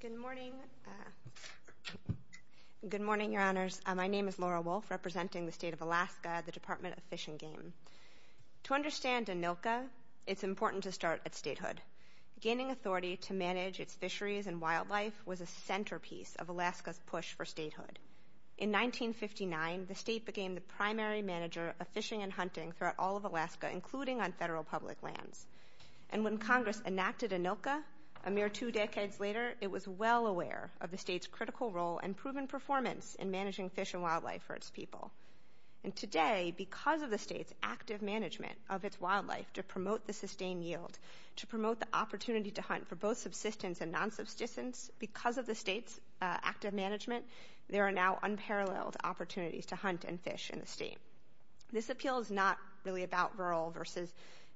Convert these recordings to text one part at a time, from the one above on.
Good morning. Good morning, Your Honors. My name is Laura Wolfe, representing the State of Alaska, the Department of Fish and Game. To understand ANILCA, it's important to start at statehood. Gaining authority to manage its fisheries and wildlife was a centerpiece of Alaska's push for statehood. In 1959, the state became the primary manager of fishing and hunting throughout all Alaska, including on federal public lands. And when Congress enacted ANILCA, a mere two decades later, it was well aware of the state's critical role and proven performance in managing fish and wildlife for its people. And today, because of the state's active management of its wildlife to promote the sustained yield, to promote the opportunity to hunt for both subsistence and non-subsistence, because of the state's active management, there are now unparalleled opportunities to hunt and fish in the state. This appeal is not really about rural versus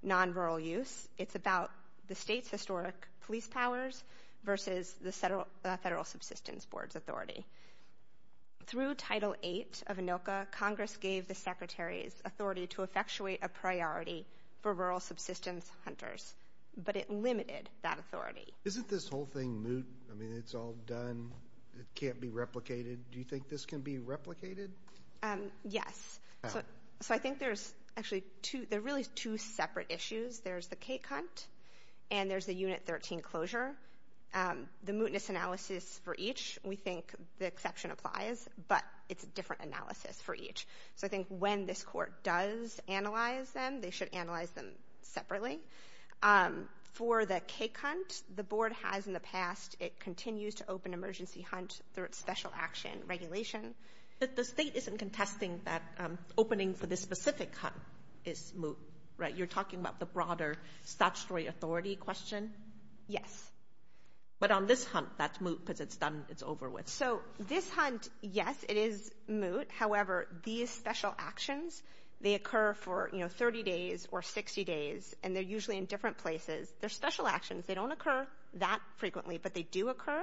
non-rural use. It's about the state's historic police powers versus the Federal Subsistence Board's authority. Through Title VIII of ANILCA, Congress gave the Secretary's authority to effectuate a priority for rural subsistence hunters, but it limited that authority. Isn't this whole thing moot? I mean, it's all done. It can't be replicated. Do you think this can be replicated? Yes. So I think there's actually two, there are really two separate issues. There's the K-Cunt and there's the Unit 13 closure. The mootness analysis for each, we think the exception applies, but it's a different analysis for each. So I think when this court does analyze them, they should analyze them separately. For the K-Cunt, the board has in the past, it continues to open emergency hunt through its special action regulation. But the state isn't contesting that opening for this specific hunt is moot, right? You're talking about the broader statutory authority question? Yes. But on this hunt, that's moot because it's done, it's over with. So this hunt, yes, it is moot. However, these special actions, they occur for, you know, 30 days or 60 days, and they're usually in different places. They're special actions. They don't occur that frequently, but they do occur.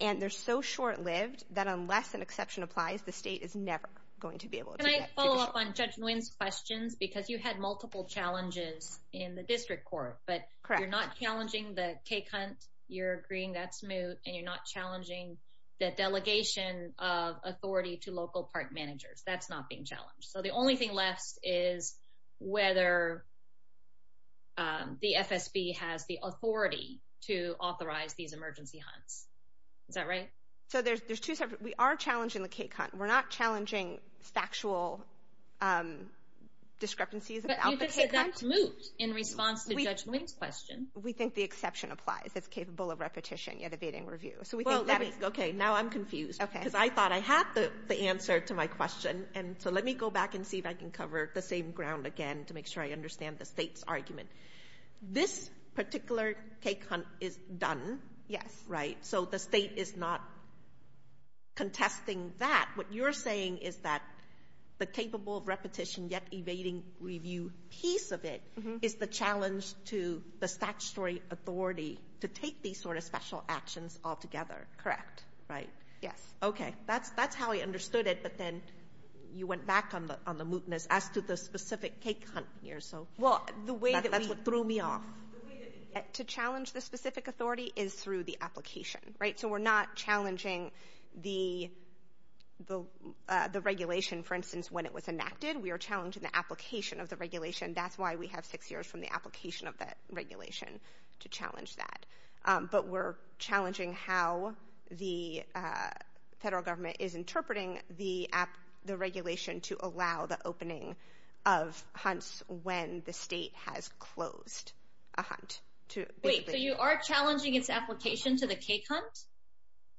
And they're so short-lived that unless an exception applies, the state is never going to be able to do that. Can I follow up on Judge Nguyen's questions? Because you had multiple challenges in the district court, but you're not challenging the K-Cunt, you're agreeing that's moot, and you're not challenging the delegation of authority to local park managers. That's not being challenged. So the only thing left is whether the FSB has the authority to authorize these emergency hunts. Is that right? So there's two separate, we are challenging the K-Cunt. We're not challenging factual discrepancies about the K-Cunt. But you just said that's moot in response to Judge Nguyen's question. We think the exception applies. It's capable of repetition, yet evading review. So we think that is, okay, now I'm confused. Okay. Because I thought I had the answer to my question, and so let me go back and see if I can cover the same ground again to make sure I understand the state's argument. This particular K-Cunt is done, right? So the state is not contesting that. What you're saying is that the capable of repetition, yet evading review piece of it is the challenge to the statutory authority to take these sort of special actions altogether. Correct. Right. Yes. Okay. That's how I understood it, but then you went back on the mootness as to the specific K-Cunt here. So that's what threw me off. Well, the way to challenge the specific authority is through the application, right? So we're not challenging the regulation, for instance, when it was enacted. We are challenging the application of the regulation. That's why we have six years from the application of that regulation to challenge that. But we're of hunts when the state has closed a hunt. Wait. So you are challenging its application to the K-Cunt?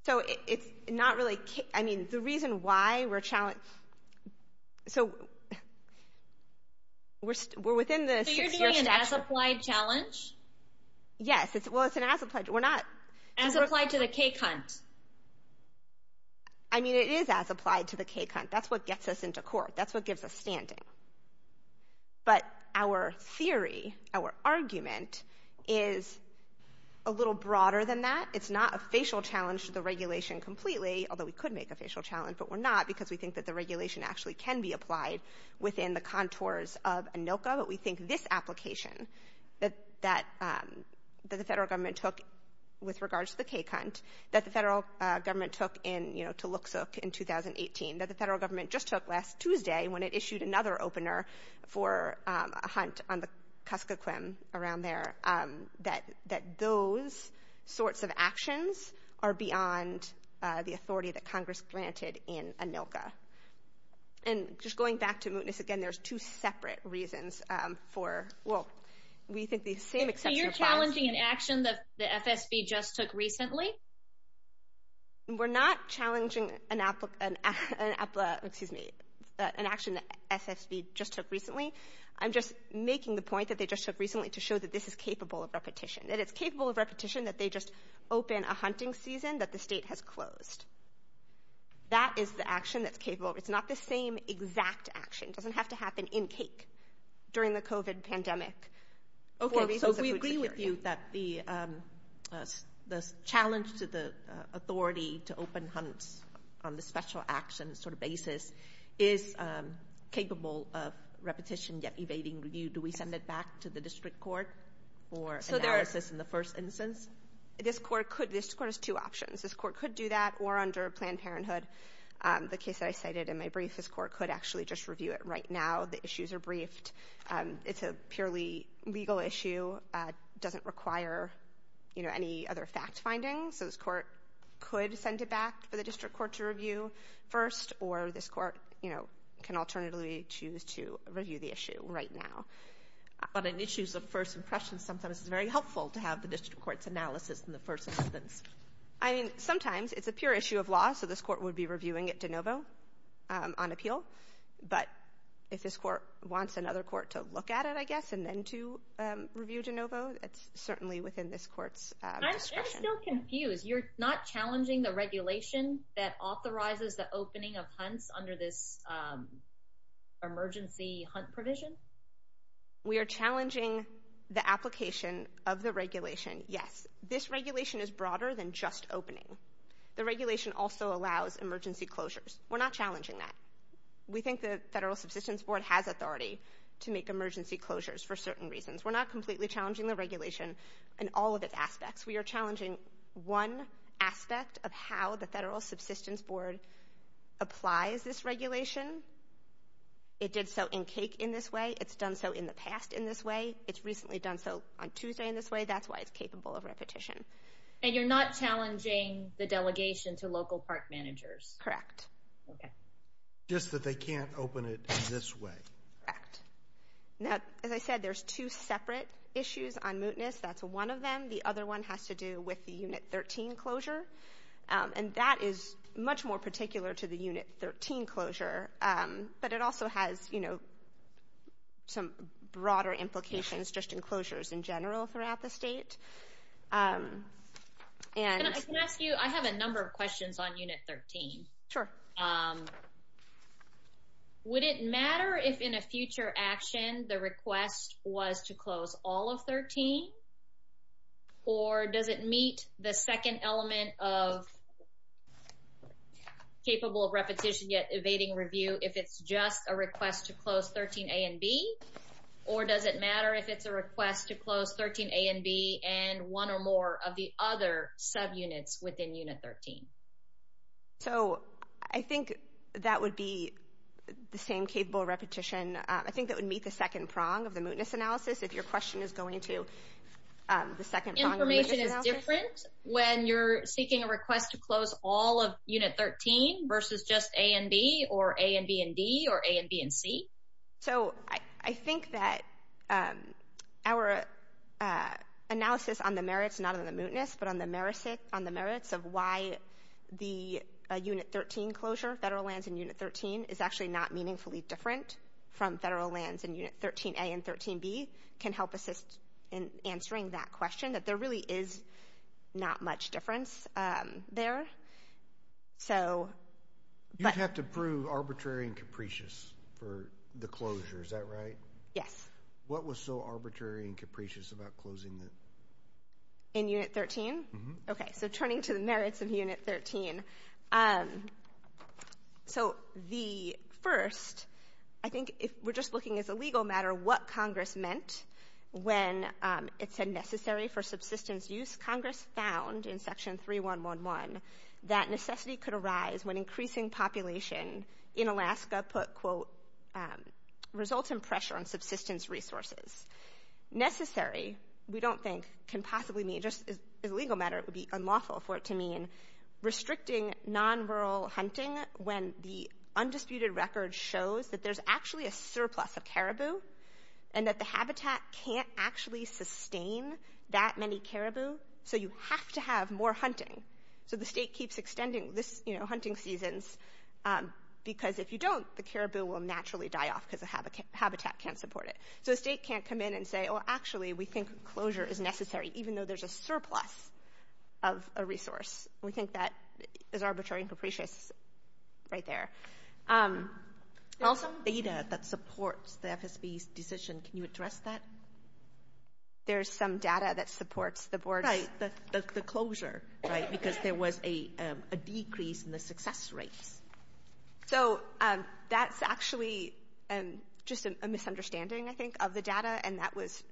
So it's not really... I mean, the reason why we're challenged... So we're within the... So you're doing an as-applied challenge? Yes. Well, it's an as-applied... We're not... As-applied to the K-Cunt. I mean, it is as-applied to the K-Cunt. That's what gets us into court. That's what gives us standing. But our theory, our argument, is a little broader than that. It's not a facial challenge to the regulation completely, although we could make a facial challenge, but we're not because we think that the regulation actually can be applied within the contours of ANOCA. But we think this application that the federal government took with regards to the K-Cunt, that the federal government took in, you know, to Looksook in 2018, that the federal just took last Tuesday when it issued another opener for a hunt on the Kuskokwim around there, that those sorts of actions are beyond the authority that Congress granted in ANOCA. And just going back to mootness, again, there's two separate reasons for... Well, we think the same... So you're challenging an action that the FSB just took recently? We're not challenging an action that FSB just took recently. I'm just making the point that they just took recently to show that this is capable of repetition, that it's capable of repetition that they just open a hunting season that the state has closed. That is the action that's capable. It's not the same exact action. It doesn't have to happen in CAIC during the COVID pandemic for reasons of food security. Okay, so we agree with you that the challenge to the authority to open hunts on the special action sort of basis is capable of repetition, yet evading review. Do we send it back to the district court for analysis in the first instance? This court has two options. This court could do that, or under Planned Parenthood, the case that I cited in my brief, this court could actually just review it right now. The issues are briefed. It's a purely legal issue, doesn't require, you know, any other fact findings, so this court could send it back for the district court to review first, or this court, you know, can alternatively choose to review the issue right now. But in issues of first impressions, sometimes it's very helpful to have the district court's analysis in the first instance. I mean, sometimes it's a pure issue of law, so this court would be reviewing it de novo on appeal, but if this court wants another court to look at it, I guess, and to review de novo, it's certainly within this court's discretion. I'm still confused. You're not challenging the regulation that authorizes the opening of hunts under this emergency hunt provision? We are challenging the application of the regulation, yes. This regulation is broader than just opening. The regulation also allows emergency closures. We're not challenging that. We think the federal subsistence board has authority to make emergency closures for certain reasons. We're not completely challenging the regulation in all of its aspects. We are challenging one aspect of how the federal subsistence board applies this regulation. It did so in CAIC in this way. It's done so in the past in this way. It's recently done so on Tuesday in this way. That's why it's capable of repetition. And you're not challenging the delegation to local park managers? Correct. Okay. Just that they can't open it in this way? Correct. Now, as I said, there's two separate issues on mootness. That's one of them. The other one has to do with the Unit 13 closure. And that is much more particular to the Unit 13 closure. But it also has, you know, some broader implications just in closures in general throughout the state. And I can ask you, I have a number of questions on Unit 13. Sure. Um, would it matter if in a future action, the request was to close all of 13? Or does it meet the second element of capable of repetition yet evading review if it's just a request to close 13 A and B? Or does it matter if it's a request to close 13 A and B and one or more of the other subunits within Unit 13? So I think that would be the same capable repetition. I think that would meet the second prong of the mootness analysis. If your question is going to the second prong. Information is different when you're seeking a request to close all of Unit 13 versus just A and B or A and B and D or A and B and C. So I think that our analysis on the merits, not on the mootness, but on the merits of why the Unit 13 closure, federal lands in Unit 13, is actually not meaningfully different from federal lands in Unit 13 A and 13 B can help assist in answering that question that there really is not much difference there. So. You'd have to prove arbitrary and capricious for the closure. Is that right? Yes. What was so arbitrary and capricious about closing that? In Unit 13? Okay, so turning to the merits of Unit 13. So the first, I think if we're just looking as a legal matter what Congress meant when it said necessary for subsistence use, Congress found in Section 3111 that necessity could arise when increasing population in Alaska put quote results in pressure on subsistence resources. Necessary we don't think can possibly mean, just as a legal matter it would be unlawful for it to mean restricting non-rural hunting when the undisputed record shows that there's actually a surplus of caribou and that the habitat can't actually sustain that many caribou. So you have to have more hunting. So the state can't come in and say, oh actually we think closure is necessary even though there's a surplus of a resource. We think that is arbitrary and capricious right there. Also data that supports the FSB's decision. Can you address that? There's some data that supports the board. Right, the closure, right? Because there was a decrease in the success rates. So that's actually just a misunderstanding I think of the data and that was,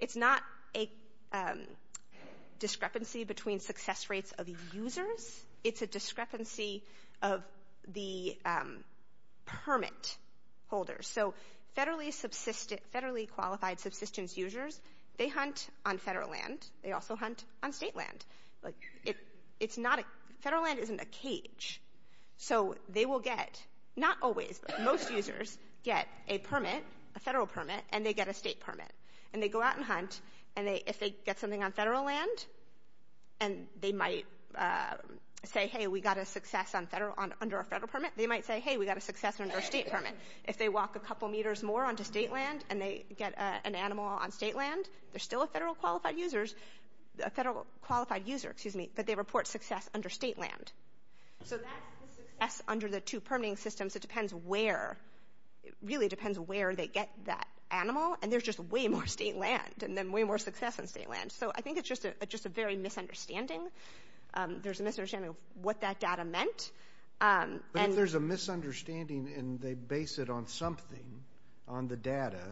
it's not a discrepancy between success rates of users, it's a discrepancy of the permit holders. So federally qualified subsistence users, they hunt on federal land, they also hunt on state land. Federal land isn't a cage. So they will get, not always, but most users get a permit, a federal permit, and they get a state permit. And they go out and hunt and if they get something on federal land and they might say, hey we got a success under a federal permit, they might say, hey we got a success under a state permit. If they walk a couple meters more onto state land and they get an animal on state land, they're still a federal qualified user, excuse me, but they report success under state land. So that's the success under the two permitting systems. It depends where, it really depends where they get that animal and there's just way more state land and then way more success on state land. So I think it's just a very misunderstanding. There's a misunderstanding of what that data meant. But if there's a misunderstanding and they base it on something, on the data,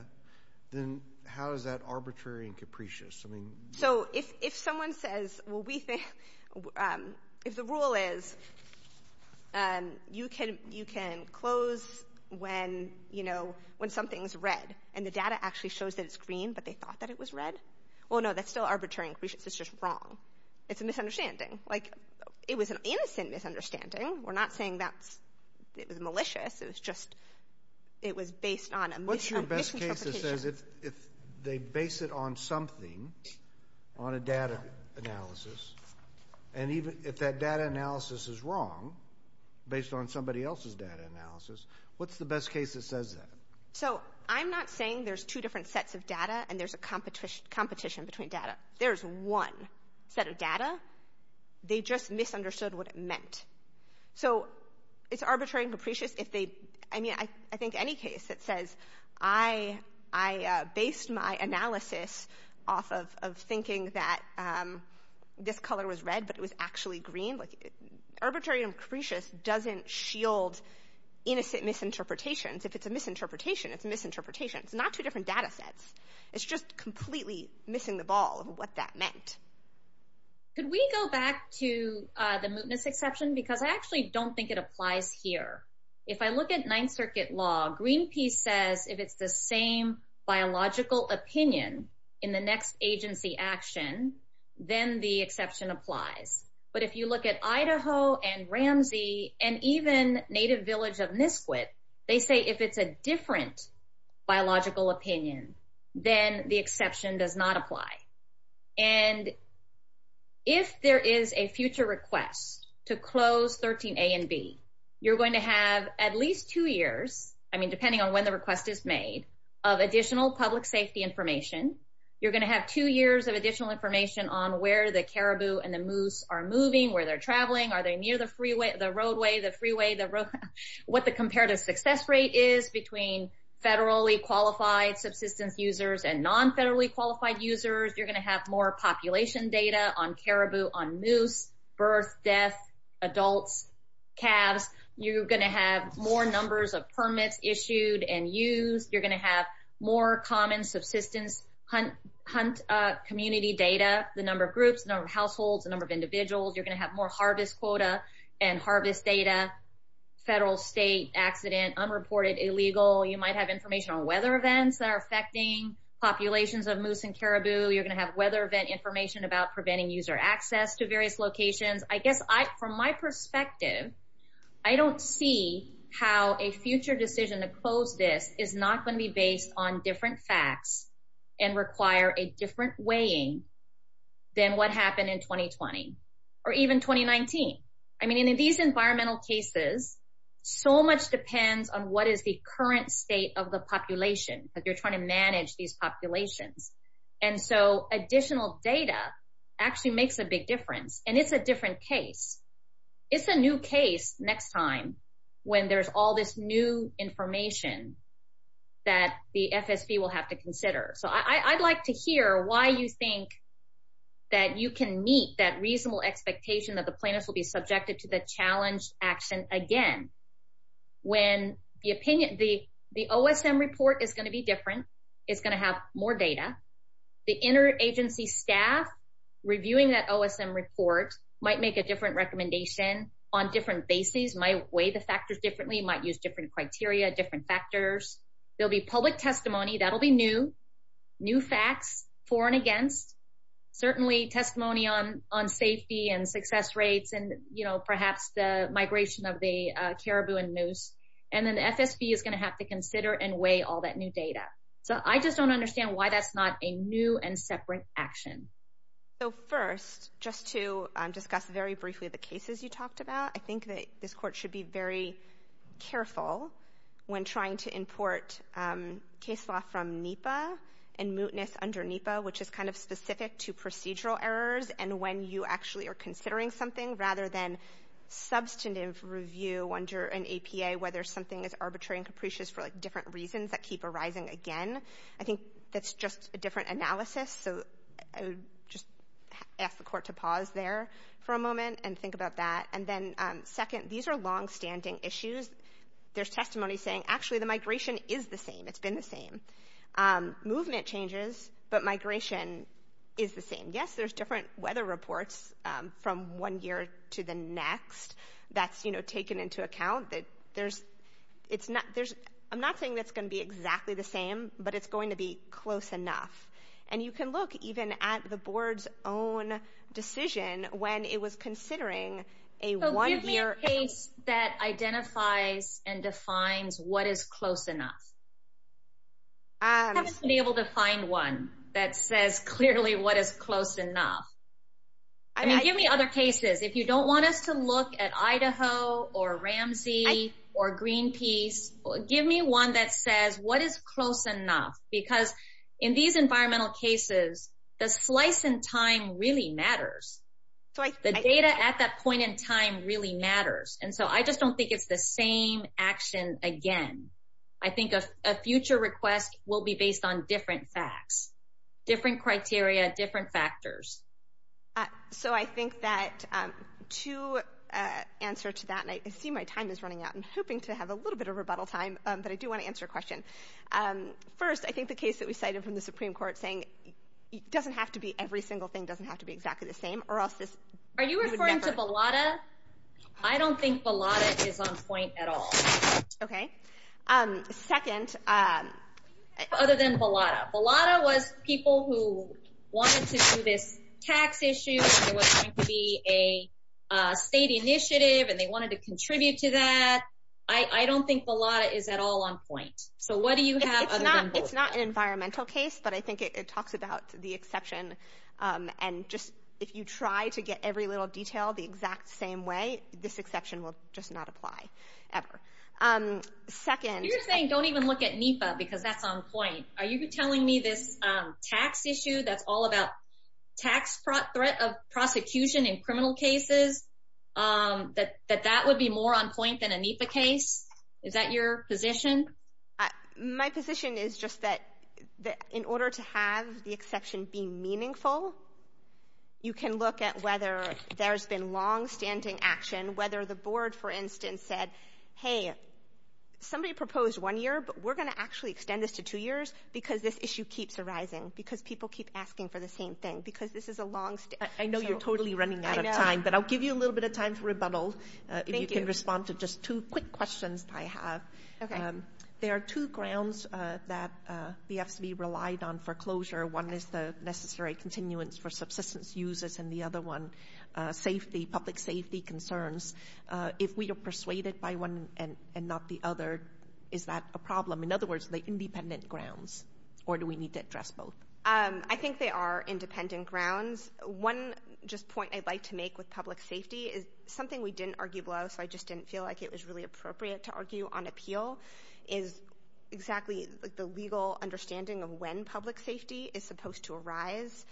then how is that So if someone says, well we think, if the rule is you can close when something's red and the data actually shows that it's green but they thought that it was red, well no, that's still arbitrary. It's just wrong. It's a misunderstanding. Like it was an innocent misunderstanding. We're not saying that it was malicious. It was just, it was based on a misinterpretation. If they base it on something, on a data analysis, and even if that data analysis is wrong, based on somebody else's data analysis, what's the best case that says that? So I'm not saying there's two different sets of data and there's a competition between data. There's one set of data. They just misunderstood what it meant. So it's arbitrary and capricious I mean, I think any case that says, I based my analysis off of thinking that this color was red but it was actually green. Arbitrary and capricious doesn't shield innocent misinterpretations. If it's a misinterpretation, it's a misinterpretation. It's not two different data sets. It's just completely missing the ball of what that meant. Could we go back to the mootness exception? Because I actually don't think it applies here. If I look at ninth circuit law, Greenpeace says, if it's the same biological opinion in the next agency action, then the exception applies. But if you look at Idaho and Ramsey and even native village of Nisquick, they say, if it's a different biological opinion, then the exception does not apply. And if there is a future request to close 13 A and B, you're going to have at least two years, I mean, depending on when the request is made, of additional public safety information. You're going to have two years of additional information on where the caribou and the moose are moving, where they're traveling, are they near the freeway, the roadway, the freeway, the roadway, what the comparative success rate is between federally qualified subsistence users and federally qualified users. You're going to have more population data on caribou, on moose, birth, death, adults, calves. You're going to have more numbers of permits issued and used. You're going to have more common subsistence hunt community data, the number of groups, the number of households, the number of individuals. You're going to have more harvest quota and harvest data, federal, state, accident, unreported, illegal. You might have information on weather events that are affecting populations of moose and caribou. You're going to have weather event information about preventing user access to various locations. I guess from my perspective, I don't see how a future decision to close this is not going to be based on different facts and require a different weighing than what happened in 2020 or even 2019. I mean, in these environmental cases, so much depends on what is the current state of the population that you're trying to manage these populations. And so additional data actually makes a big difference and it's a different case. It's a new case next time when there's all this new information that the FSB will have to consider. So I'd like to hear why you think that you can that reasonable expectation that the plaintiffs will be subjected to the challenge action again. When the OSM report is going to be different, it's going to have more data. The interagency staff reviewing that OSM report might make a different recommendation on different bases, might weigh the factors differently, might use different criteria, different factors. There'll be public on safety and success rates and, you know, perhaps the migration of the caribou and moose. And then the FSB is going to have to consider and weigh all that new data. So I just don't understand why that's not a new and separate action. So first, just to discuss very briefly the cases you talked about, I think that this court should be very careful when trying to import case law from NEPA and mootness under NEPA, which is kind specific to procedural errors and when you actually are considering something rather than substantive review under an APA, whether something is arbitrary and capricious for different reasons that keep arising again. I think that's just a different analysis. So I would just ask the court to pause there for a moment and think about that. And then second, these are longstanding issues. There's testimony saying, actually the migration is the same. It's been the same. Movement changes, but migration is the same. Yes, there's different weather reports from one year to the next that's, you know, taken into account. I'm not saying that's going to be exactly the same, but it's going to be close enough. And you can look even at the board's own decision when it was considering a one-year. So give me a case that identifies and defines what is close enough. I haven't been able to find one that says clearly what is close enough. I mean, give me other cases. If you don't want us to look at Idaho or Ramsey or Greenpeace, give me one that says what is close enough, because in these environmental cases, the slice in time really matters. The data at that point in time really matters. And so I just don't think it's the same action again. I think a future request will be based on different facts, different criteria, different factors. So I think that to answer to that, and I see my time is running out. I'm hoping to have a little bit of rebuttal time, but I do want to answer a question. First, I think the case that we cited from the Supreme Court saying it doesn't have to be every single thing doesn't have to be exactly the same. Are you referring to Bellotta? I don't think Bellotta is on point at all. Okay. Second, other than Bellotta. Bellotta was people who wanted to do this tax issue, and it was going to be a state initiative, and they wanted to contribute to that. I don't think Bellotta is at all on point. So what do you have other than both? It's not an environmental case, but I think it talks about the exception. And just if you try to get every little detail the exact same way, this exception will just not apply ever. Second- You're saying don't even look at NEPA because that's on point. Are you telling me this tax issue that's all about tax threat of prosecution in criminal cases, that that would be more on the NEPA side? I think it's just that in order to have the exception be meaningful, you can look at whether there's been long-standing action, whether the board, for instance, said, hey, somebody proposed one year, but we're going to actually extend this to two years because this issue keeps arising, because people keep asking for the same thing, because this is a long- I know you're totally running out of time, but I'll give you a little bit of time for rebuttal. Thank you. If you can respond to just two quick questions I have. There are two grounds that the FCB relied on foreclosure. One is the necessary continuance for subsistence users, and the other one safety, public safety concerns. If we are persuaded by one and not the other, is that a problem? In other words, the independent grounds, or do we need to address both? I think they are independent grounds. One just point I'd like to make with public safety is something we didn't argue below, so I just didn't feel like it was appropriate to argue on appeal, is exactly the legal understanding of when public safety is supposed to arise.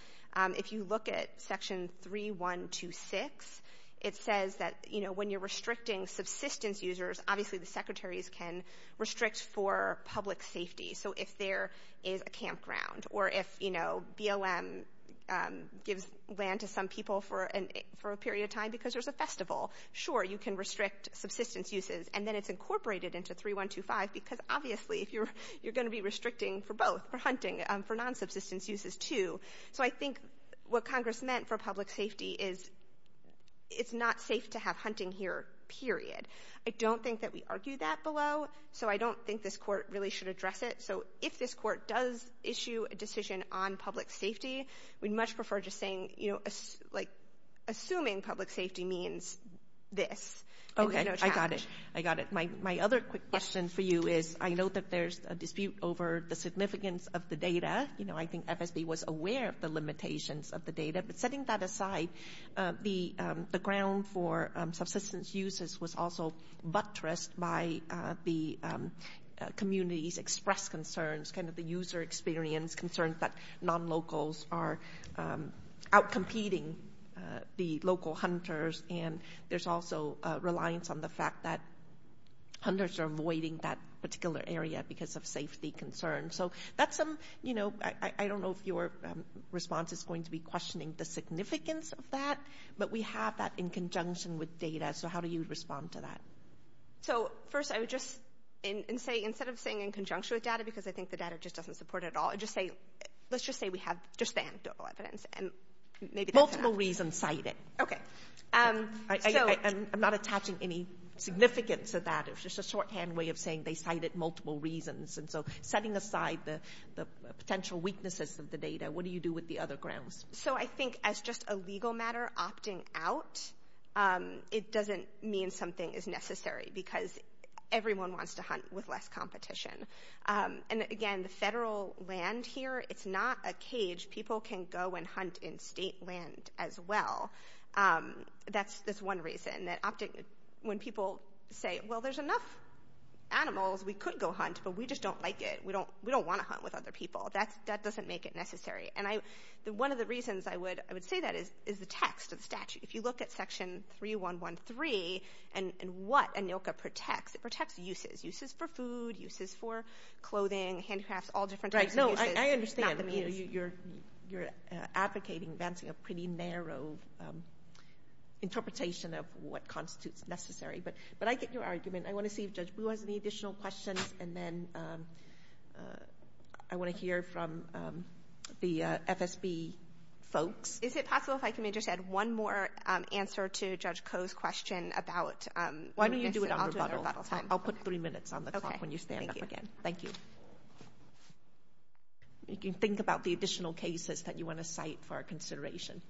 If you look at section 3126, it says that when you're restricting subsistence users, obviously the secretaries can restrict for public safety, so if there is a campground, or if BLM gives land to some people for a period of time because there's a festival, sure, you can restrict subsistence uses, and then it's incorporated into 3125 because obviously you're going to be restricting for both, for hunting, for non-subsistence uses too, so I think what Congress meant for public safety is it's not safe to have hunting here, period. I don't think that we argue that below, so I don't think this court really should address it, so if this court does issue a decision on public safety, we'd much prefer just saying, like, assuming public safety means this. Okay, I got it, I got it. My other quick question for you is, I know that there's a dispute over the significance of the data, you know, I think FSB was aware of the limitations of the data, but setting that aside, the ground for subsistence uses was also buttressed by the community's expressed concerns, kind of the user experience concerns that non-locals are out-competing the local hunters, and there's also a reliance on the fact that hunters are avoiding that particular area because of safety concerns, so that's some, you know, I don't know if your response is going to be questioning the significance of that, but we have that in conjunction with data, so how do you respond to that? So first, I would just say, instead of saying in conjunction with data, because I think the data just doesn't support it at all, just say, let's just say we have just the anecdotal evidence, and maybe that's enough. Multiple reasons cited. Okay. I'm not attaching any significance to that, it's just a shorthand way of saying they cited multiple reasons, and so setting aside the potential weaknesses of the data, what do you do with the other grounds? So I think as just a legal matter, opting out, it doesn't mean something is necessary, because everyone wants to hunt with less competition. And again, the federal land here, it's not a cage. People can go and hunt in state land as well. That's one reason. When people say, well, there's enough animals, we could go hunt, but we just don't like it. We don't want to hunt with other people. That doesn't make it necessary. And one of the reasons I would say that is the text of the statute. If you look at section 3113, and what ANILCA protects, it protects uses. Uses for food, uses for clothing, handicrafts, all different types of uses. Right. No, I understand. You're advocating advancing a pretty narrow interpretation of what constitutes necessary, but I get your argument. I want to see if Judge Boo has any additional questions, and then I want to hear from the FSB folks. Is it to Judge Koh's question about... Why don't you do it on rebuttal? I'll do it on rebuttal time. I'll put three minutes on the clock when you stand up again. Thank you. You can think about the additional cases that you want to cite for our consideration.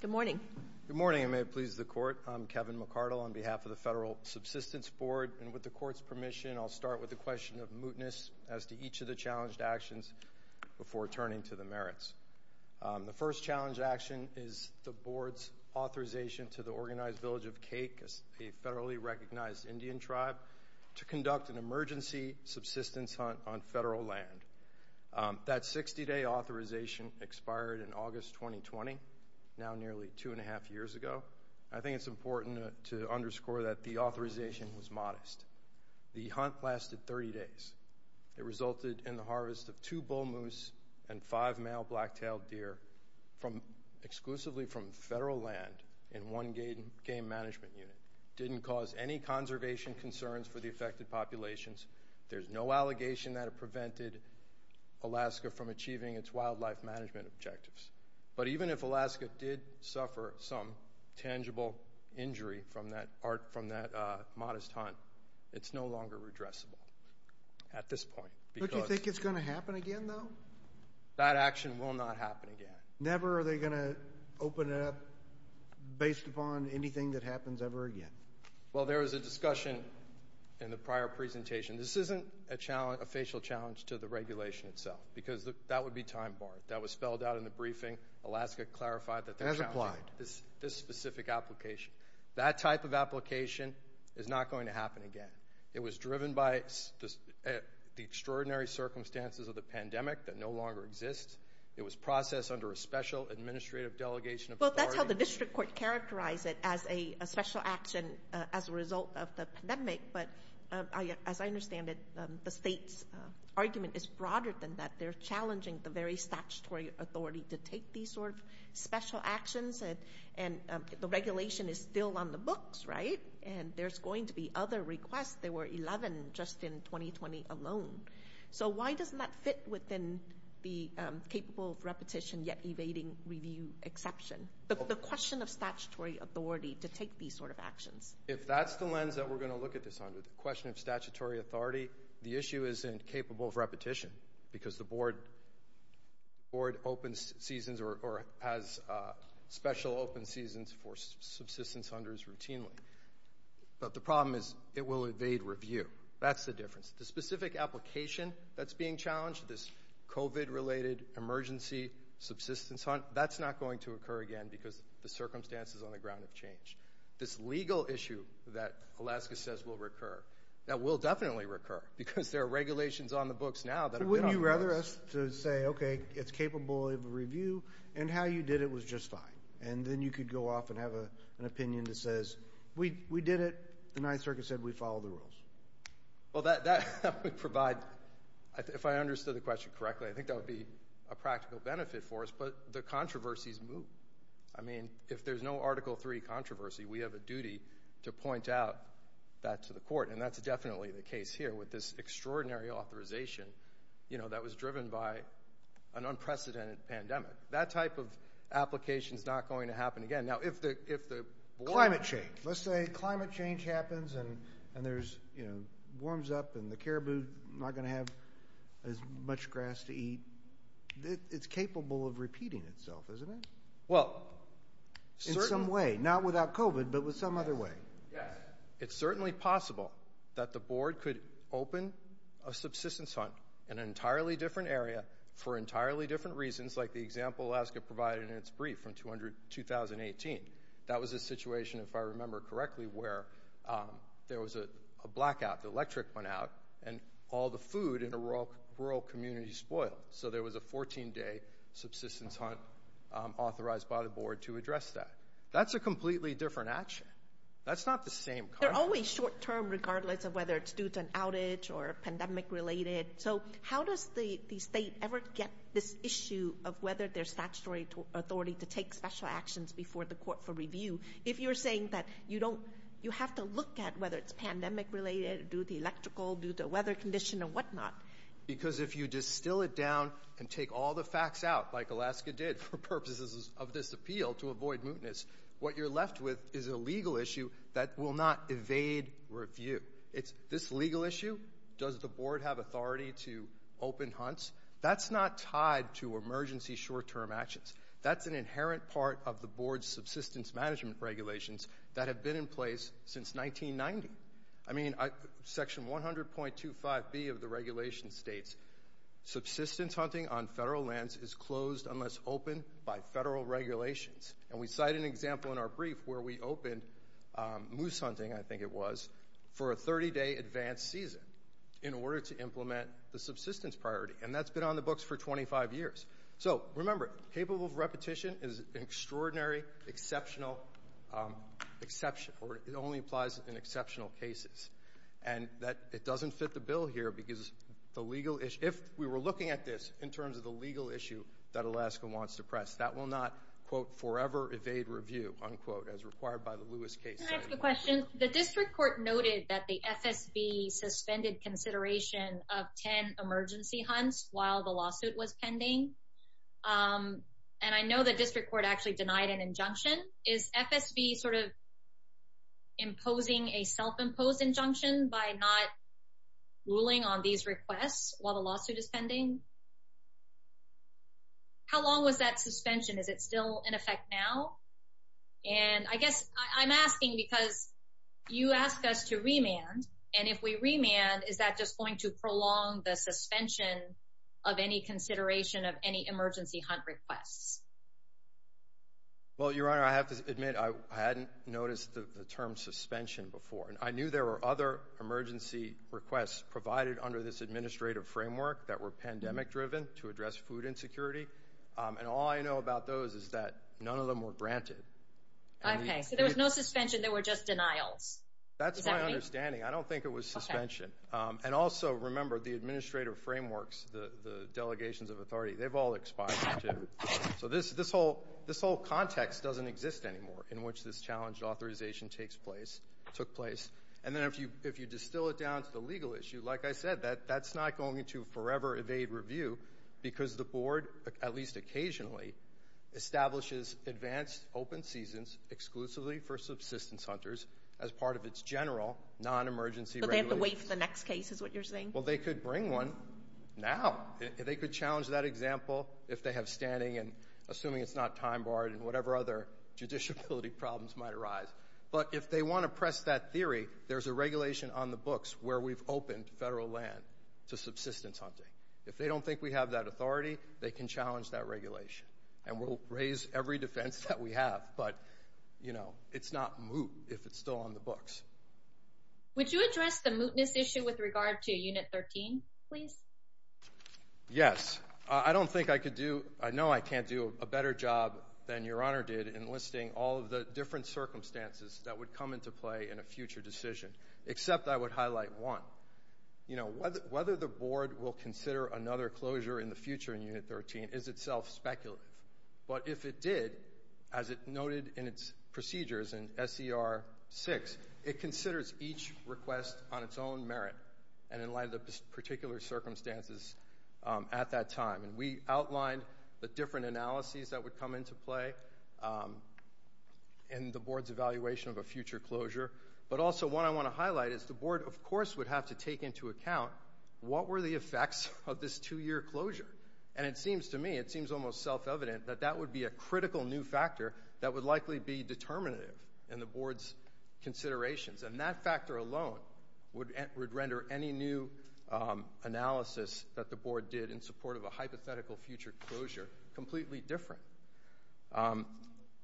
Good morning. Good morning, and may it please the Court. I'm Kevin McCardle on behalf of the Federal Subsistence Board, and with the Court's permission, I'll start with the question of before turning to the merits. The first challenge action is the Board's authorization to the organized village of Cake, a federally recognized Indian tribe, to conduct an emergency subsistence hunt on federal land. That 60-day authorization expired in August 2020, now nearly two and a half years ago. I think it's important to underscore that the authorization was modest. The hunt lasted 30 days. It resulted in the harvest of two bull moose and five male black-tailed deer exclusively from federal land in one game management unit. Didn't cause any conservation concerns for the affected populations. There's no allegation that it prevented Alaska from achieving its wildlife management objectives. But even if Alaska did suffer some at this point... Do you think it's going to happen again, though? That action will not happen again. Never are they going to open it up based upon anything that happens ever again? Well, there was a discussion in the prior presentation. This isn't a challenge, a facial challenge, to the regulation itself, because that would be time barred. That was spelled out in the briefing. Alaska clarified that they're challenging this specific application. That type of application is not going to happen again. It was driven by the extraordinary circumstances of the pandemic that no longer exist. It was processed under a special administrative delegation of... Well, that's how the district court characterized it, as a special action as a result of the pandemic. But as I understand it, the state's argument is broader than that. They're challenging the very statutory authority to take these sort of special actions. And the regulation is still on the books, right? And there's going to be other requests. There were 11 just in 2020 alone. So why doesn't that fit within the capable of repetition, yet evading review exception? The question of statutory authority to take these sort of actions. If that's the lens that we're going to look at this under, the question of statutory authority, the issue isn't capable of repetition, because the board opens seasons or has special open seasons for subsistence hunters routinely. But the problem is, it will evade review. That's the difference. The specific application that's being challenged, this COVID-related emergency subsistence hunt, that's not going to occur again, because the circumstances on the ground have changed. This legal issue that Alaska says will recur, that will definitely recur, because there are regulations on the books now that... Would you rather us to say, okay, it's capable of review, and how you did it was just fine. And then you could go off and have an opinion that says, we did it. The Ninth Circuit said we follow the rules. Well, that would provide... If I understood the question correctly, I think that would be a practical benefit for us. But the controversies move. I mean, if there's no Article 3 controversy, we have a duty to point out that to the court. And that's definitely the case here, with this extraordinary authorization that was driven by an unprecedented pandemic. That type of application is not going to happen again. Now, if the... Climate change. Let's say climate change happens, and there's warms up, and the caribou is not going to have as much grass to eat. It's capable of repeating itself, isn't it? Well, in some way, not without COVID, but with some other way. Yes. It's certainly possible that the board could open a subsistence hunt in an entirely different area for entirely different reasons, like the example Alaska provided in its brief from 2018. That was a situation, if I remember correctly, where there was a blackout, the electric went out, and all the food in a rural community spoiled. So there was a 14-day subsistence hunt authorized by the board to address that. That's a completely different action. That's not the same... They're always short-term, regardless of whether it's due to an outage or pandemic-related. So how does the state ever get this issue of whether there's statutory authority to take special actions before the court for review, if you're saying that you don't... You have to look at whether it's pandemic-related, due to electrical, due to weather condition, Because if you distill it down and take all the facts out, like Alaska did for purposes of this appeal to avoid mootness, what you're left with is a legal issue that will not evade review. It's this legal issue, does the board have authority to open hunts? That's not tied to emergency short-term actions. That's an inherent part of the board's subsistence management regulations that have been in place since 1990. I mean, Section 100.25b of the regulation states, subsistence hunting on federal lands is closed unless open by federal regulations. And we cite an example in our brief where we opened moose hunting, I think it was, for a 30-day advanced season in order to implement the subsistence priority. And that's been on the books for 25 years. So remember, capable of repetition is an extraordinary exceptional exception, or it only applies in exceptional cases. And that it doesn't fit the bill here because the legal issue, if we were looking at this in terms of the legal issue that Alaska wants to press, that will not, quote, forever evade review, unquote, as required by the Lewis case. Can I ask a question? The district court noted that the FSB suspended consideration of 10 emergency hunts while the lawsuit was pending. And I know the district court actually denied an injunction. Is FSB sort of imposing a self-imposed injunction by not ruling on these requests while the lawsuit is pending? How long was that suspension? Is it still in effect now? And I guess I'm asking because you asked us to remand. And if we remand, is that just going to prolong the suspension of any consideration of any emergency hunt requests? Well, Your Honor, I have to admit, I hadn't noticed the term suspension before. And I knew there were other emergency requests provided under this administrative framework that were pandemic-driven to address food insecurity. And all I know about those is that none of them were denials. Is that right? That's my understanding. I don't think it was suspension. And also, remember, the administrative frameworks, the delegations of authority, they've all expired, too. So this whole context doesn't exist anymore in which this challenged authorization took place. And then if you distill it down to the legal issue, like I said, that's not going to forever evade review because the board, at least occasionally, establishes advanced open seasons exclusively for subsistence hunters as part of its general non-emergency regulations. But they have to wait for the next case, is what you're saying? Well, they could bring one now. They could challenge that example if they have standing, and assuming it's not time-barred and whatever other judiciability problems might arise. But if they want to press that theory, there's a regulation on the books where we've opened federal land to subsistence hunting. If they don't think we have that authority, they can challenge that regulation. And we'll raise every defense that we have, but, you know, it's not moot if it's still on the books. Would you address the mootness issue with regard to Unit 13, please? Yes. I don't think I could do, I know I can't do a better job than Your Honor did in listing all of the different circumstances that would come into play in a future decision, except I would highlight one. You know, whether the board will consider another closure in the Unit 13 is itself speculative. But if it did, as it noted in its procedures in S.E.R. 6, it considers each request on its own merit and in light of the particular circumstances at that time. And we outlined the different analyses that would come into play in the board's evaluation of a future closure. But also, what I want to highlight is the board, of course, would have to take into account what were the effects of this two-year closure. And it seems to me, it seems almost self-evident, that that would be a critical new factor that would likely be determinative in the board's considerations. And that factor alone would render any new analysis that the board did in support of a hypothetical future closure completely different.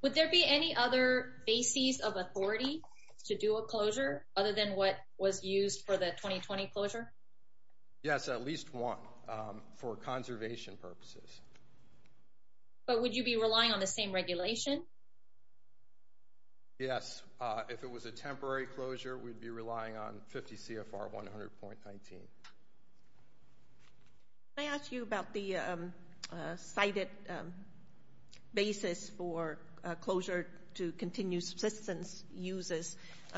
Would there be any other bases of authority to do a closure other than what was used for the 2020 closure? Yes, at least one for conservation purposes. But would you be relying on the same regulation? Yes. If it was a temporary closure, we'd be relying on 50 CFR 100.19. Can I ask you about the cited basis for closure to continue subsistence uses?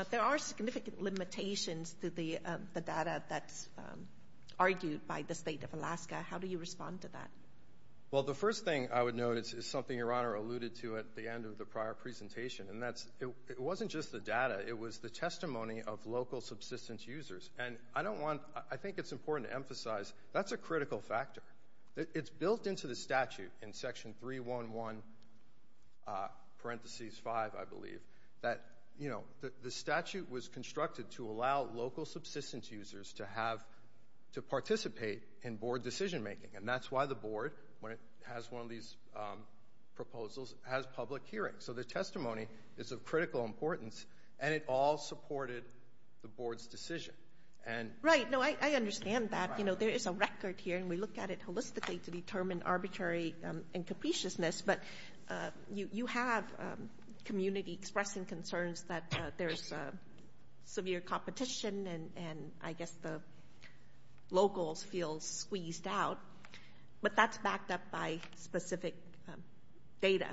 There are significant limitations to the data that's argued by the State of Alaska. How do you respond to that? Well, the first thing I would note is something Your Honor alluded to at the end of the prior presentation. And that's, it wasn't just the data, it was the testimony of local subsistence users. And I don't want, I think it's important to emphasize, that's a critical factor. It's built into the statute in section 311, parenthesis 5, I believe, that, you know, the statute was constructed to allow local subsistence users to have, to participate in board decision making. And that's why the board, when it has one of these proposals, has public hearings. So the testimony is of critical importance and it all supported the board's decision. And... Right, no, I understand that, you know, there is a record here and we look at it holistically to determine arbitrary and capriciousness. But you have community expressing concerns that there's severe competition and I guess the locals feel squeezed out. But that's backed up by specific data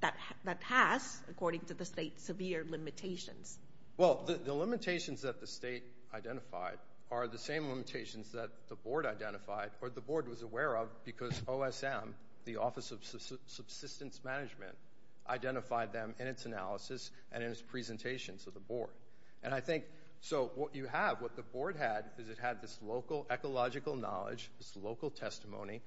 that has, according to the state, severe limitations. Well, the limitations that the state identified are the same limitations that the board identified, or the board was aware of, because OSM, the Office of Subsistence Management, identified them in its analysis and in its presentations to the board. And I think, so what you have, what the board had, is it had this local ecological knowledge, this local testimony,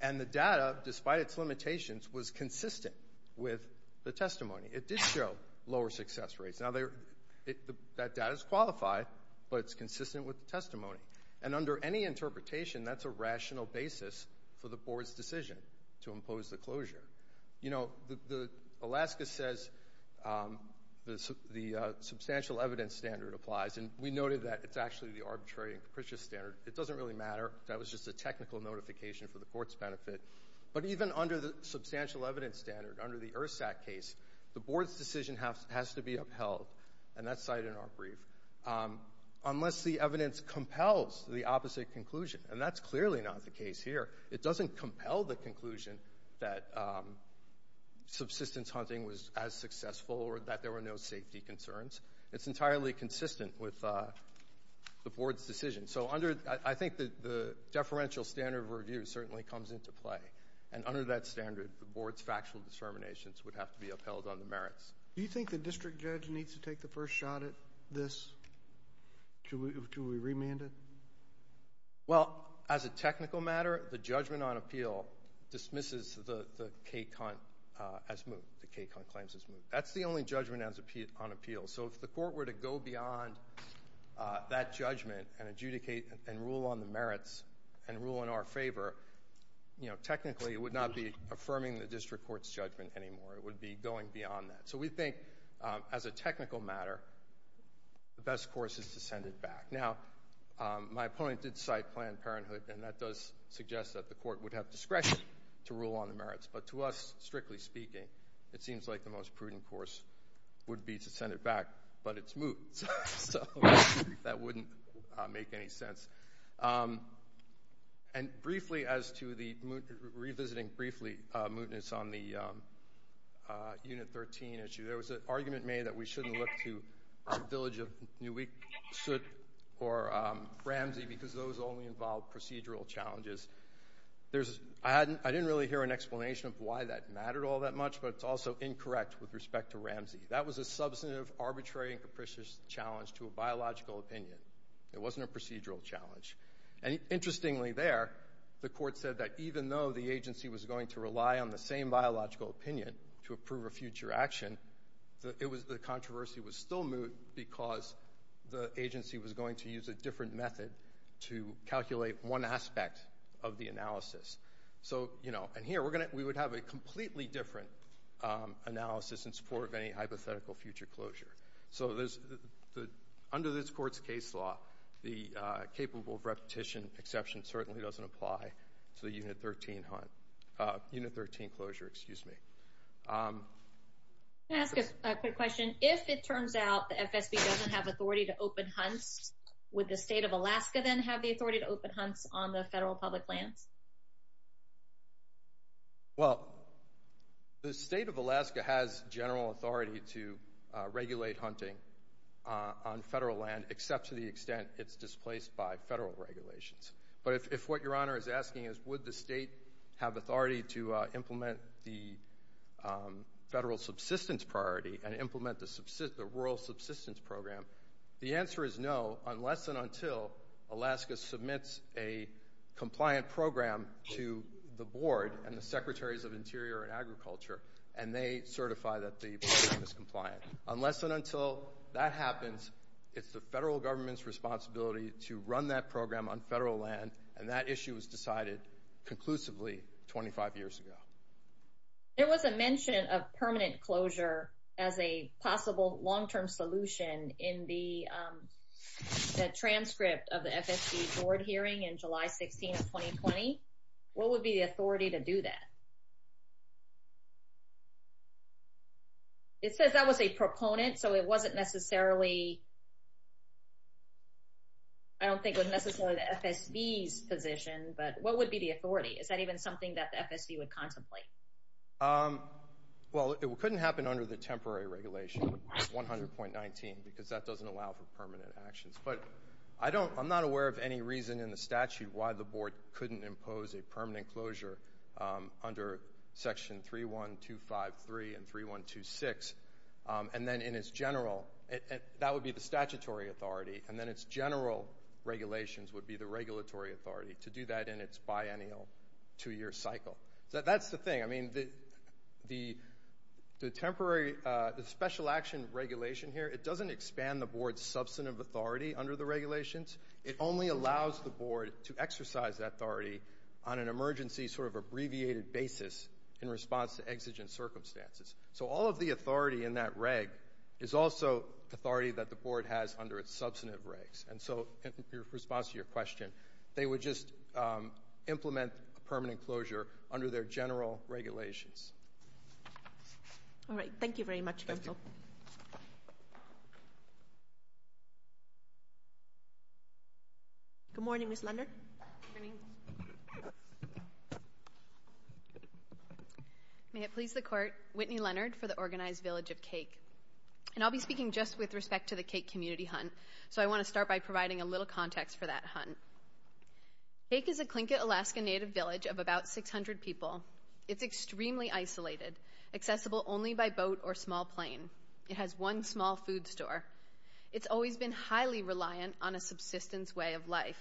and the data, despite its limitations, was consistent with the testimony. It did show lower success rates. Now, that data is qualified, but it's consistent with the testimony. And under any interpretation, that's a rational basis for the board's decision to impose the closure. You know, Alaska says the substantial evidence standard applies and we noted that it's actually the arbitrary and capricious standard. It doesn't really matter. That was just a technical notification for the court's benefit. But even under the substantial evidence standard, under the ERSAC case, the board's decision has to be upheld, and that's cited in our brief, unless the evidence compels the opposite conclusion. And that's clearly not the case here. It doesn't compel the conclusion that subsistence hunting was as successful or that there were no safety concerns. It's entirely consistent with the board's decision. So under, I think the deferential standard of review certainly comes into play. And under that standard, the board's factual determinations would have to be upheld on the merits. Do you think the district judge needs to take the first shot at this? Should we remand it? Well, as a technical matter, the judgment on appeal dismisses the K-Cunt as moved, the K-Cunt claims as moved. That's the only judgment on appeal. So if the court were to go beyond that judgment and adjudicate and rule on the merits and rule in our favor, you know, technically it would not be affirming the district court's judgment anymore. It would be going beyond that. So we think, as a technical matter, the best course is to send it back. Now, my opponent did cite Planned Parenthood, and that does suggest that the court would have discretion to rule on the merits. But to us, strictly speaking, it seems like the most prudent course would be to send it back, but it's moved. So that wouldn't make any sense. And briefly, as to the, revisiting briefly, mootness on the Unit 13 issue, there was an argument made that we shouldn't look to Village of New Iqsut or Ramsey because those only involve procedural challenges. There's, I didn't really hear an explanation of why that mattered all that much, but it's also incorrect with respect to Ramsey. That was a substantive, arbitrary, and capricious challenge to a biological opinion. It wasn't a procedural challenge. And interestingly there, the court said that even though the agency was going to rely on the same biological opinion to approve a future action, the controversy was still moot because the agency was going to use a different method to calculate one aspect of the analysis. So, you know, and here, we're going to, we would have a completely different analysis in support of any hypothetical future closure. So there's the, under this court's case law, the capable of repetition exception certainly doesn't apply to the Unit 13 hunt, Unit 13 closure, excuse me. Can I ask a quick question? If it turns out the FSB doesn't have authority to open hunts, would the state of Alaska then have the authority to open hunts on the federal public lands? Well, the state of Alaska has general authority to regulate hunting on federal land except to the extent it's displaced by federal regulations. But if what your honor is asking is would the state have authority to implement the federal subsistence priority and implement the rural subsistence program, the answer is no unless and until Alaska submits a compliant program to the board and the secretaries of interior and agriculture and they certify that the program is compliant. Unless and until that happens, it's the federal government's responsibility to run that program on federal land and that issue was decided conclusively 25 years ago. There was a mention of permanent closure as a possible long-term solution in the transcript of the FSB board hearing in July 16 of 2020. What would be the authority to do that? It says that was a proponent, so it wasn't necessarily, I don't think it was necessarily the FSB's position, but what would be the authority? Is that even something that the FSB would contemplate? Well, it couldn't happen under the temporary regulation 100.19 because that doesn't allow for permanent actions. But I'm not aware of any reason in the statute why the board couldn't impose a permanent closure under section 31253 and 3126 and then in its general, that would be the statutory authority, and then its general regulations would be the regulatory authority to do that in its biennial two-year cycle. So that's the thing. I mean, the temporary special action regulation here, it doesn't expand the board's substantive authority under the regulations. It only allows the board to exercise that authority on an emergency sort of abbreviated basis in response to exigent circumstances. So all of the authority in that reg is also authority that the board has under its substantive regs. And so in response to your question, they would just implement permanent closure under their general regulations. All right. Thank you very much. Good morning, Ms. Leonard. May it please the court. Whitney Leonard for the Organized Village of Cake. And I'll be speaking just with respect to the cake community hunt. So I want to start by providing a little context for that hunt. Cake is a Tlingit Alaska native village of about 600 people. It's extremely isolated, accessible only by boat or small plane. It has one small food store. It's always been highly reliant on a subsistence way of life.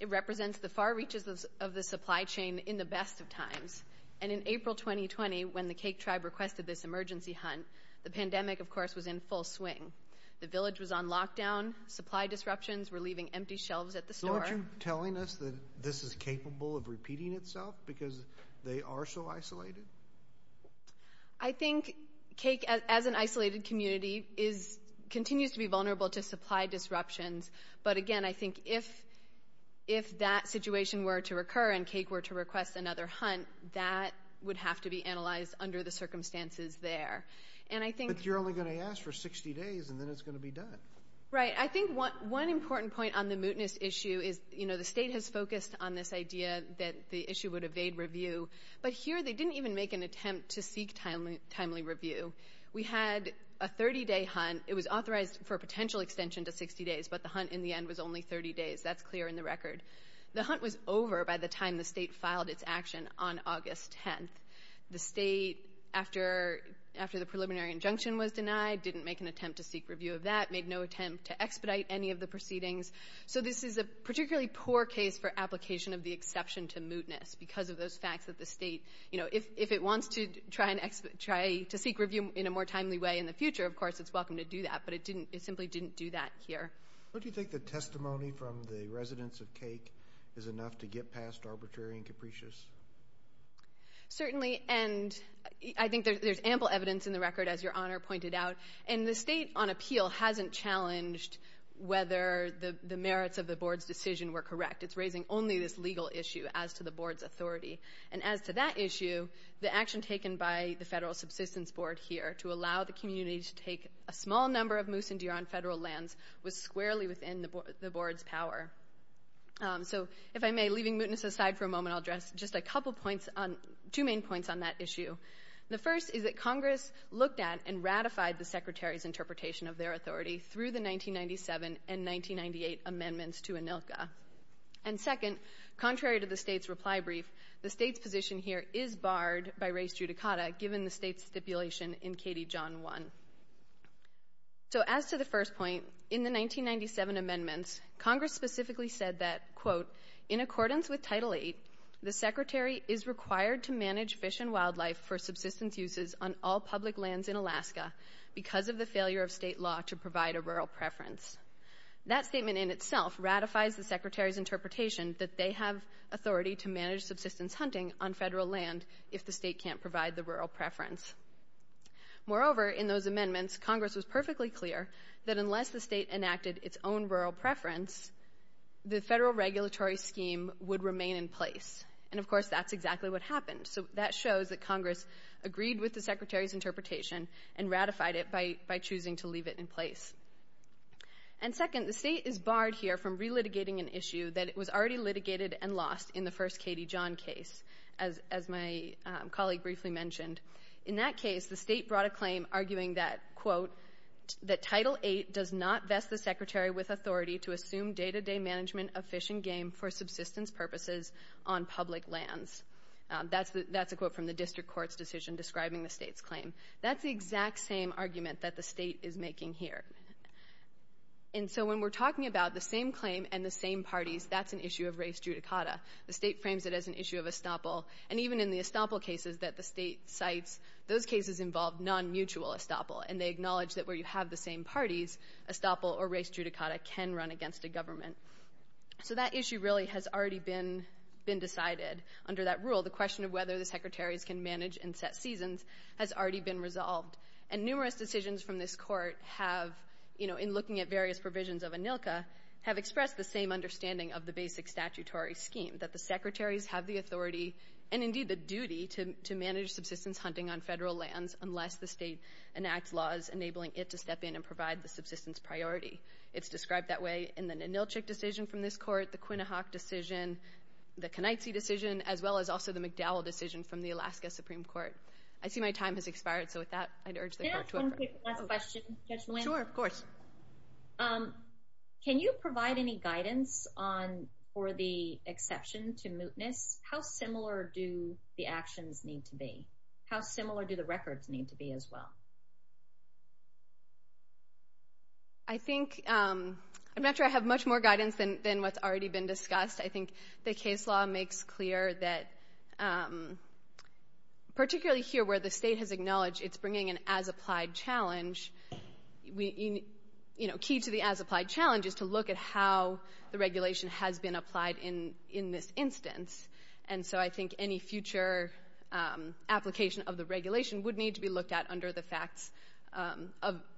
It represents the far reaches of the supply chain in the best of times. And in April 2020, when the Cake Tribe requested this emergency hunt, the pandemic, of course, was in full swing. The village was on lockdown, supply disruptions, we're leaving empty shelves at the store. So aren't you telling us that this is capable of repeating itself because they are so isolated? I think Cake, as an isolated community, continues to be vulnerable to supply disruptions. But again, I think if that situation were to recur and Cake were to request another hunt, that would have to be analyzed under the circumstances there. But you're only going to ask for 60 days and then it's going to be done. Right. I think one important point on the mootness issue is, you know, the state has focused on this idea that the issue would evade review. But here they didn't even make an attempt to seek timely review. We had a 30-day hunt. It was authorized for a potential extension to 60 days, but the hunt in the end was only 30 days. That's clear in the record. The hunt was over by the time the state filed its action on August 10th. The state, after the preliminary injunction was denied, didn't make an attempt to seek review of that, made no attempt to expedite any of the proceedings. So this is a particularly poor case for application of the exception to mootness because of those facts that the state, you know, if it wants to try to seek review in a more timely way in the future, of course, it's welcome to do that. But it simply didn't do that here. Don't you think the testimony from the residents of Cake is enough to get past arbitrary and capricious? Certainly. And I think there's ample evidence in the record, as your honor pointed out, and the state on appeal hasn't challenged whether the merits of the board's decision were correct. It's raising only this legal issue as to the board's authority. And as to that issue, the action taken by the federal subsistence board here to allow the community to take a small number of moose and deer on federal lands was squarely within the board's power. So if I may, leaving mootness aside for a moment, I'll issue. The first is that Congress looked at and ratified the secretary's interpretation of their authority through the 1997 and 1998 amendments to ANILCA. And second, contrary to the state's reply brief, the state's position here is barred by res judicata given the state's stipulation in Katie John 1. So as to the first point, in the 1997 amendments, Congress specifically said that, in accordance with Title VIII, the secretary is required to manage fish and wildlife for subsistence uses on all public lands in Alaska because of the failure of state law to provide a rural preference. That statement in itself ratifies the secretary's interpretation that they have authority to manage subsistence hunting on federal land if the state can't provide the rural preference. Moreover, in those amendments, Congress was perfectly clear that unless the state enacted its own rural preference, the federal regulatory scheme would remain in place. And of course, that's exactly what happened. So that shows that Congress agreed with the secretary's interpretation and ratified it by choosing to leave it in place. And second, the state is barred here from relitigating an issue that was already litigated and lost in the first Katie John case, as my colleague briefly mentioned. In that case, the state brought a claim arguing that, quote, that Title VIII does not vest the secretary with authority to assume day-to-day management of fish and game for subsistence purposes on public lands. That's a quote from the district court's decision describing the state's claim. That's the exact same argument that the state is making here. And so when we're talking about the same claim and the same parties, that's an issue of race judicata. The state frames it as an issue of estoppel. And even in the estoppel cases that the state cites, those cases involve non-mutual estoppel. And they acknowledge that where you have the same parties, estoppel or race judicata can run against a government. So that issue really has already been decided under that rule. The question of whether the secretaries can manage and set seasons has already been resolved. And numerous decisions from this court have, you know, in looking at various provisions of ANILCA, have expressed the same understanding of the basic statutory scheme, that the secretaries have the authority and indeed the duty to manage subsistence hunting on federal lands unless the state enacts laws enabling it to step in and provide the subsistence priority. It's described that way in the Ninilchik decision from this court, the Quinnahock decision, the Kenaitze decision, as well as also the McDowell decision from the Alaska Supreme Court. I see my time has expired, so with that, I'd urge the court to... Can I ask one quick last question, Judge Nguyen? Sure, of course. Can you provide any guidance on, for the exception to mootness, how similar do the actions need to be? How similar do the records need to be as well? I think, I'm not sure I have much more guidance than what's already been discussed. I think the case law makes clear that, particularly here where the state has acknowledged it's bringing an as-applied challenge, you know, key to the as-applied challenge is to look at how the application of the regulation would need to be looked at under the facts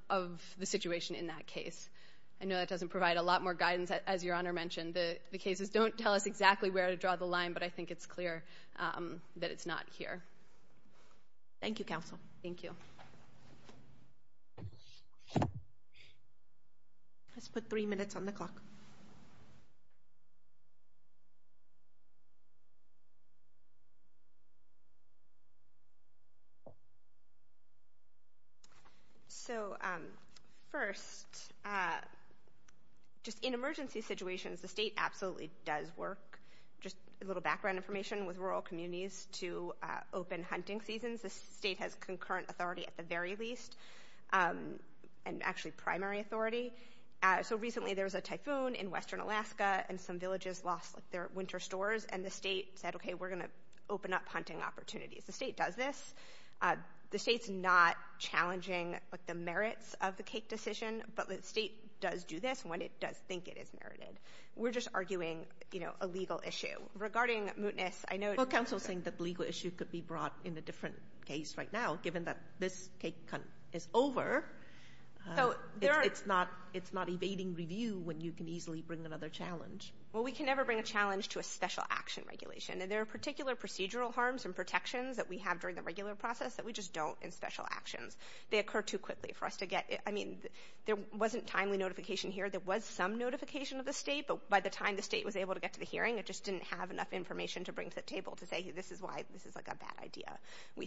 of the situation in that case. I know that doesn't provide a lot more guidance, as Your Honor mentioned. The cases don't tell us exactly where to draw the line, but I think it's clear that it's not here. Thank you, counsel. Thank you. Let's put three minutes on the clock. So, first, just in emergency situations, the state absolutely does work. Just a little background information, with rural communities, to open hunting seasons, the state has concurrent authority at the very least, and actually primary authority. So, recently, there was a typhoon in western Alaska, and some villages lost their winter stores, and the state said, okay, we're going to open up hunting opportunities. The state does this. The state's not challenging, like, the merits of the cake decision, but the state does do this when it does think it is merited. We're just arguing, you know, a legal issue. Regarding mootness, I know— Well, counsel's saying that the legal issue could be brought in a different case right now, given that this cake is over. It's not evading review when you can easily bring another challenge. Well, we can never bring a challenge to a special action regulation, and there are particular procedural harms and protections that we have during the regular process that we just don't in special actions. They occur too quickly for us to get—I mean, there wasn't timely notification here. There was some notification of the state, but by the time the state was able to get to the hearing, it just didn't have enough information to bring to the table to say, this is why—this is, like, a bad idea.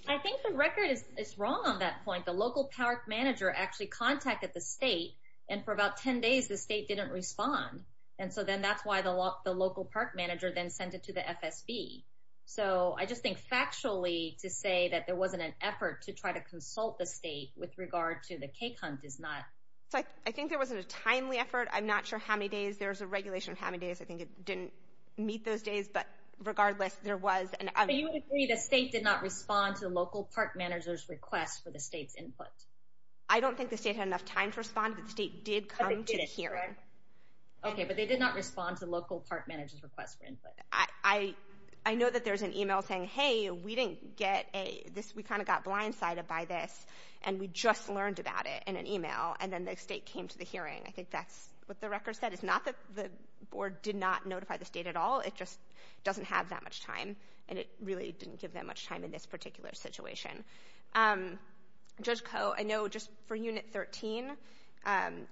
I think the record is wrong on that point. The local park manager actually contacted the state, and for about 10 days, the state didn't respond. And so then that's why the local park manager then sent it to the FSB. So I just think factually to say that there wasn't an effort to try to consult the state with regard to the cake hunt is not— So I think there wasn't a timely effort. I'm not sure how many days. There's a regulation on how many days. I think it didn't meet those days, but regardless, there was an— But you would agree the state did not respond to the local park manager's request for the state's input. I don't think the state had enough time to respond, but the state did come to the hearing. Okay, but they did not respond to the local park manager's request for input. I know that there's an email saying, hey, we didn't get a—this—we kind of got blindsided by this, and we just learned about it in an email, and then the state came to the hearing. I think that's what the record said. It's not that the board did not notify the state at all. It just had that much time, and it really didn't give them much time in this particular situation. Judge Koh, I know just for Unit 13,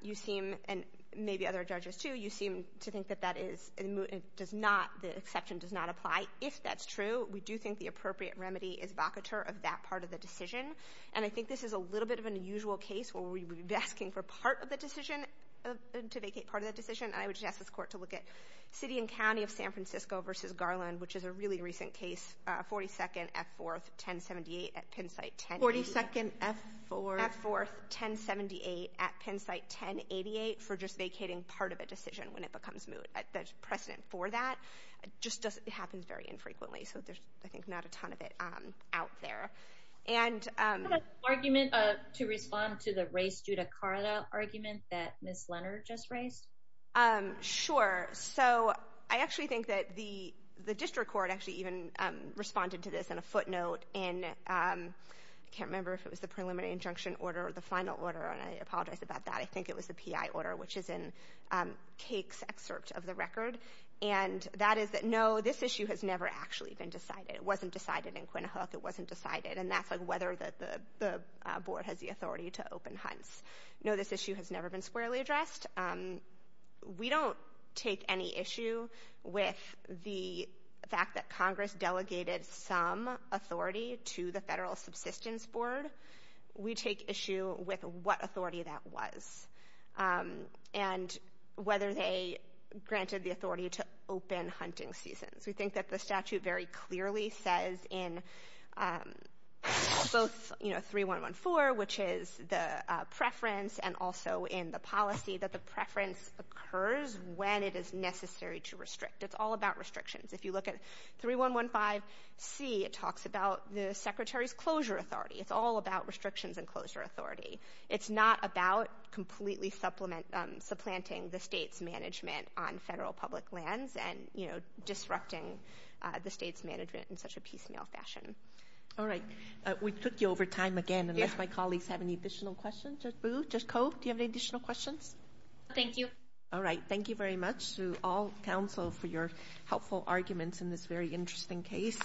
you seem—and maybe other judges, too—you seem to think that that is—it does not—the exception does not apply. If that's true, we do think the appropriate remedy is vocateur of that part of the decision, and I think this is a little bit of an unusual case where we would be asking for part of the decision—to vacate part of the decision. I asked this court to look at City and County of San Francisco v. Garland, which is a really recent case, 42nd F-4th 1078 at Pennsite 1088— 42nd F-4th—F-4th 1078 at Pennsite 1088 for just vacating part of a decision when it becomes precedent for that. It just doesn't—it happens very infrequently, so there's, I think, not a ton of it out there. And— Do you have an argument to respond to the race judicata argument that Ms. Leonard just raised? Sure. So, I actually think that the district court actually even responded to this in a footnote in—I can't remember if it was the preliminary injunction order or the final order, and I apologize about that. I think it was the P.I. order, which is in Cake's excerpt of the record, and that is that, no, this issue has never actually been decided. It wasn't decided in Quinn Hook. It wasn't decided, and that's whether the board has the authority to open hunts. No, this issue has never been addressed. We don't take any issue with the fact that Congress delegated some authority to the federal subsistence board. We take issue with what authority that was and whether they granted the authority to open hunting seasons. We think that the statute very clearly says in both, you know, 3114, which is the preference, and also in the policy that the preference occurs when it is necessary to restrict. It's all about restrictions. If you look at 3115C, it talks about the secretary's closure authority. It's all about restrictions and closure authority. It's not about completely supplanting the state's management on federal public lands and, you know, disrupting the state's unless my colleagues have any additional questions. Judge Boo, Judge Ko, do you have any additional questions? Thank you. All right. Thank you very much to all counsel for your helpful arguments in this very interesting case.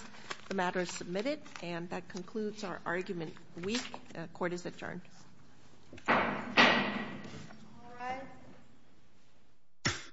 The matter is submitted, and that concludes our argument week. Court is adjourned.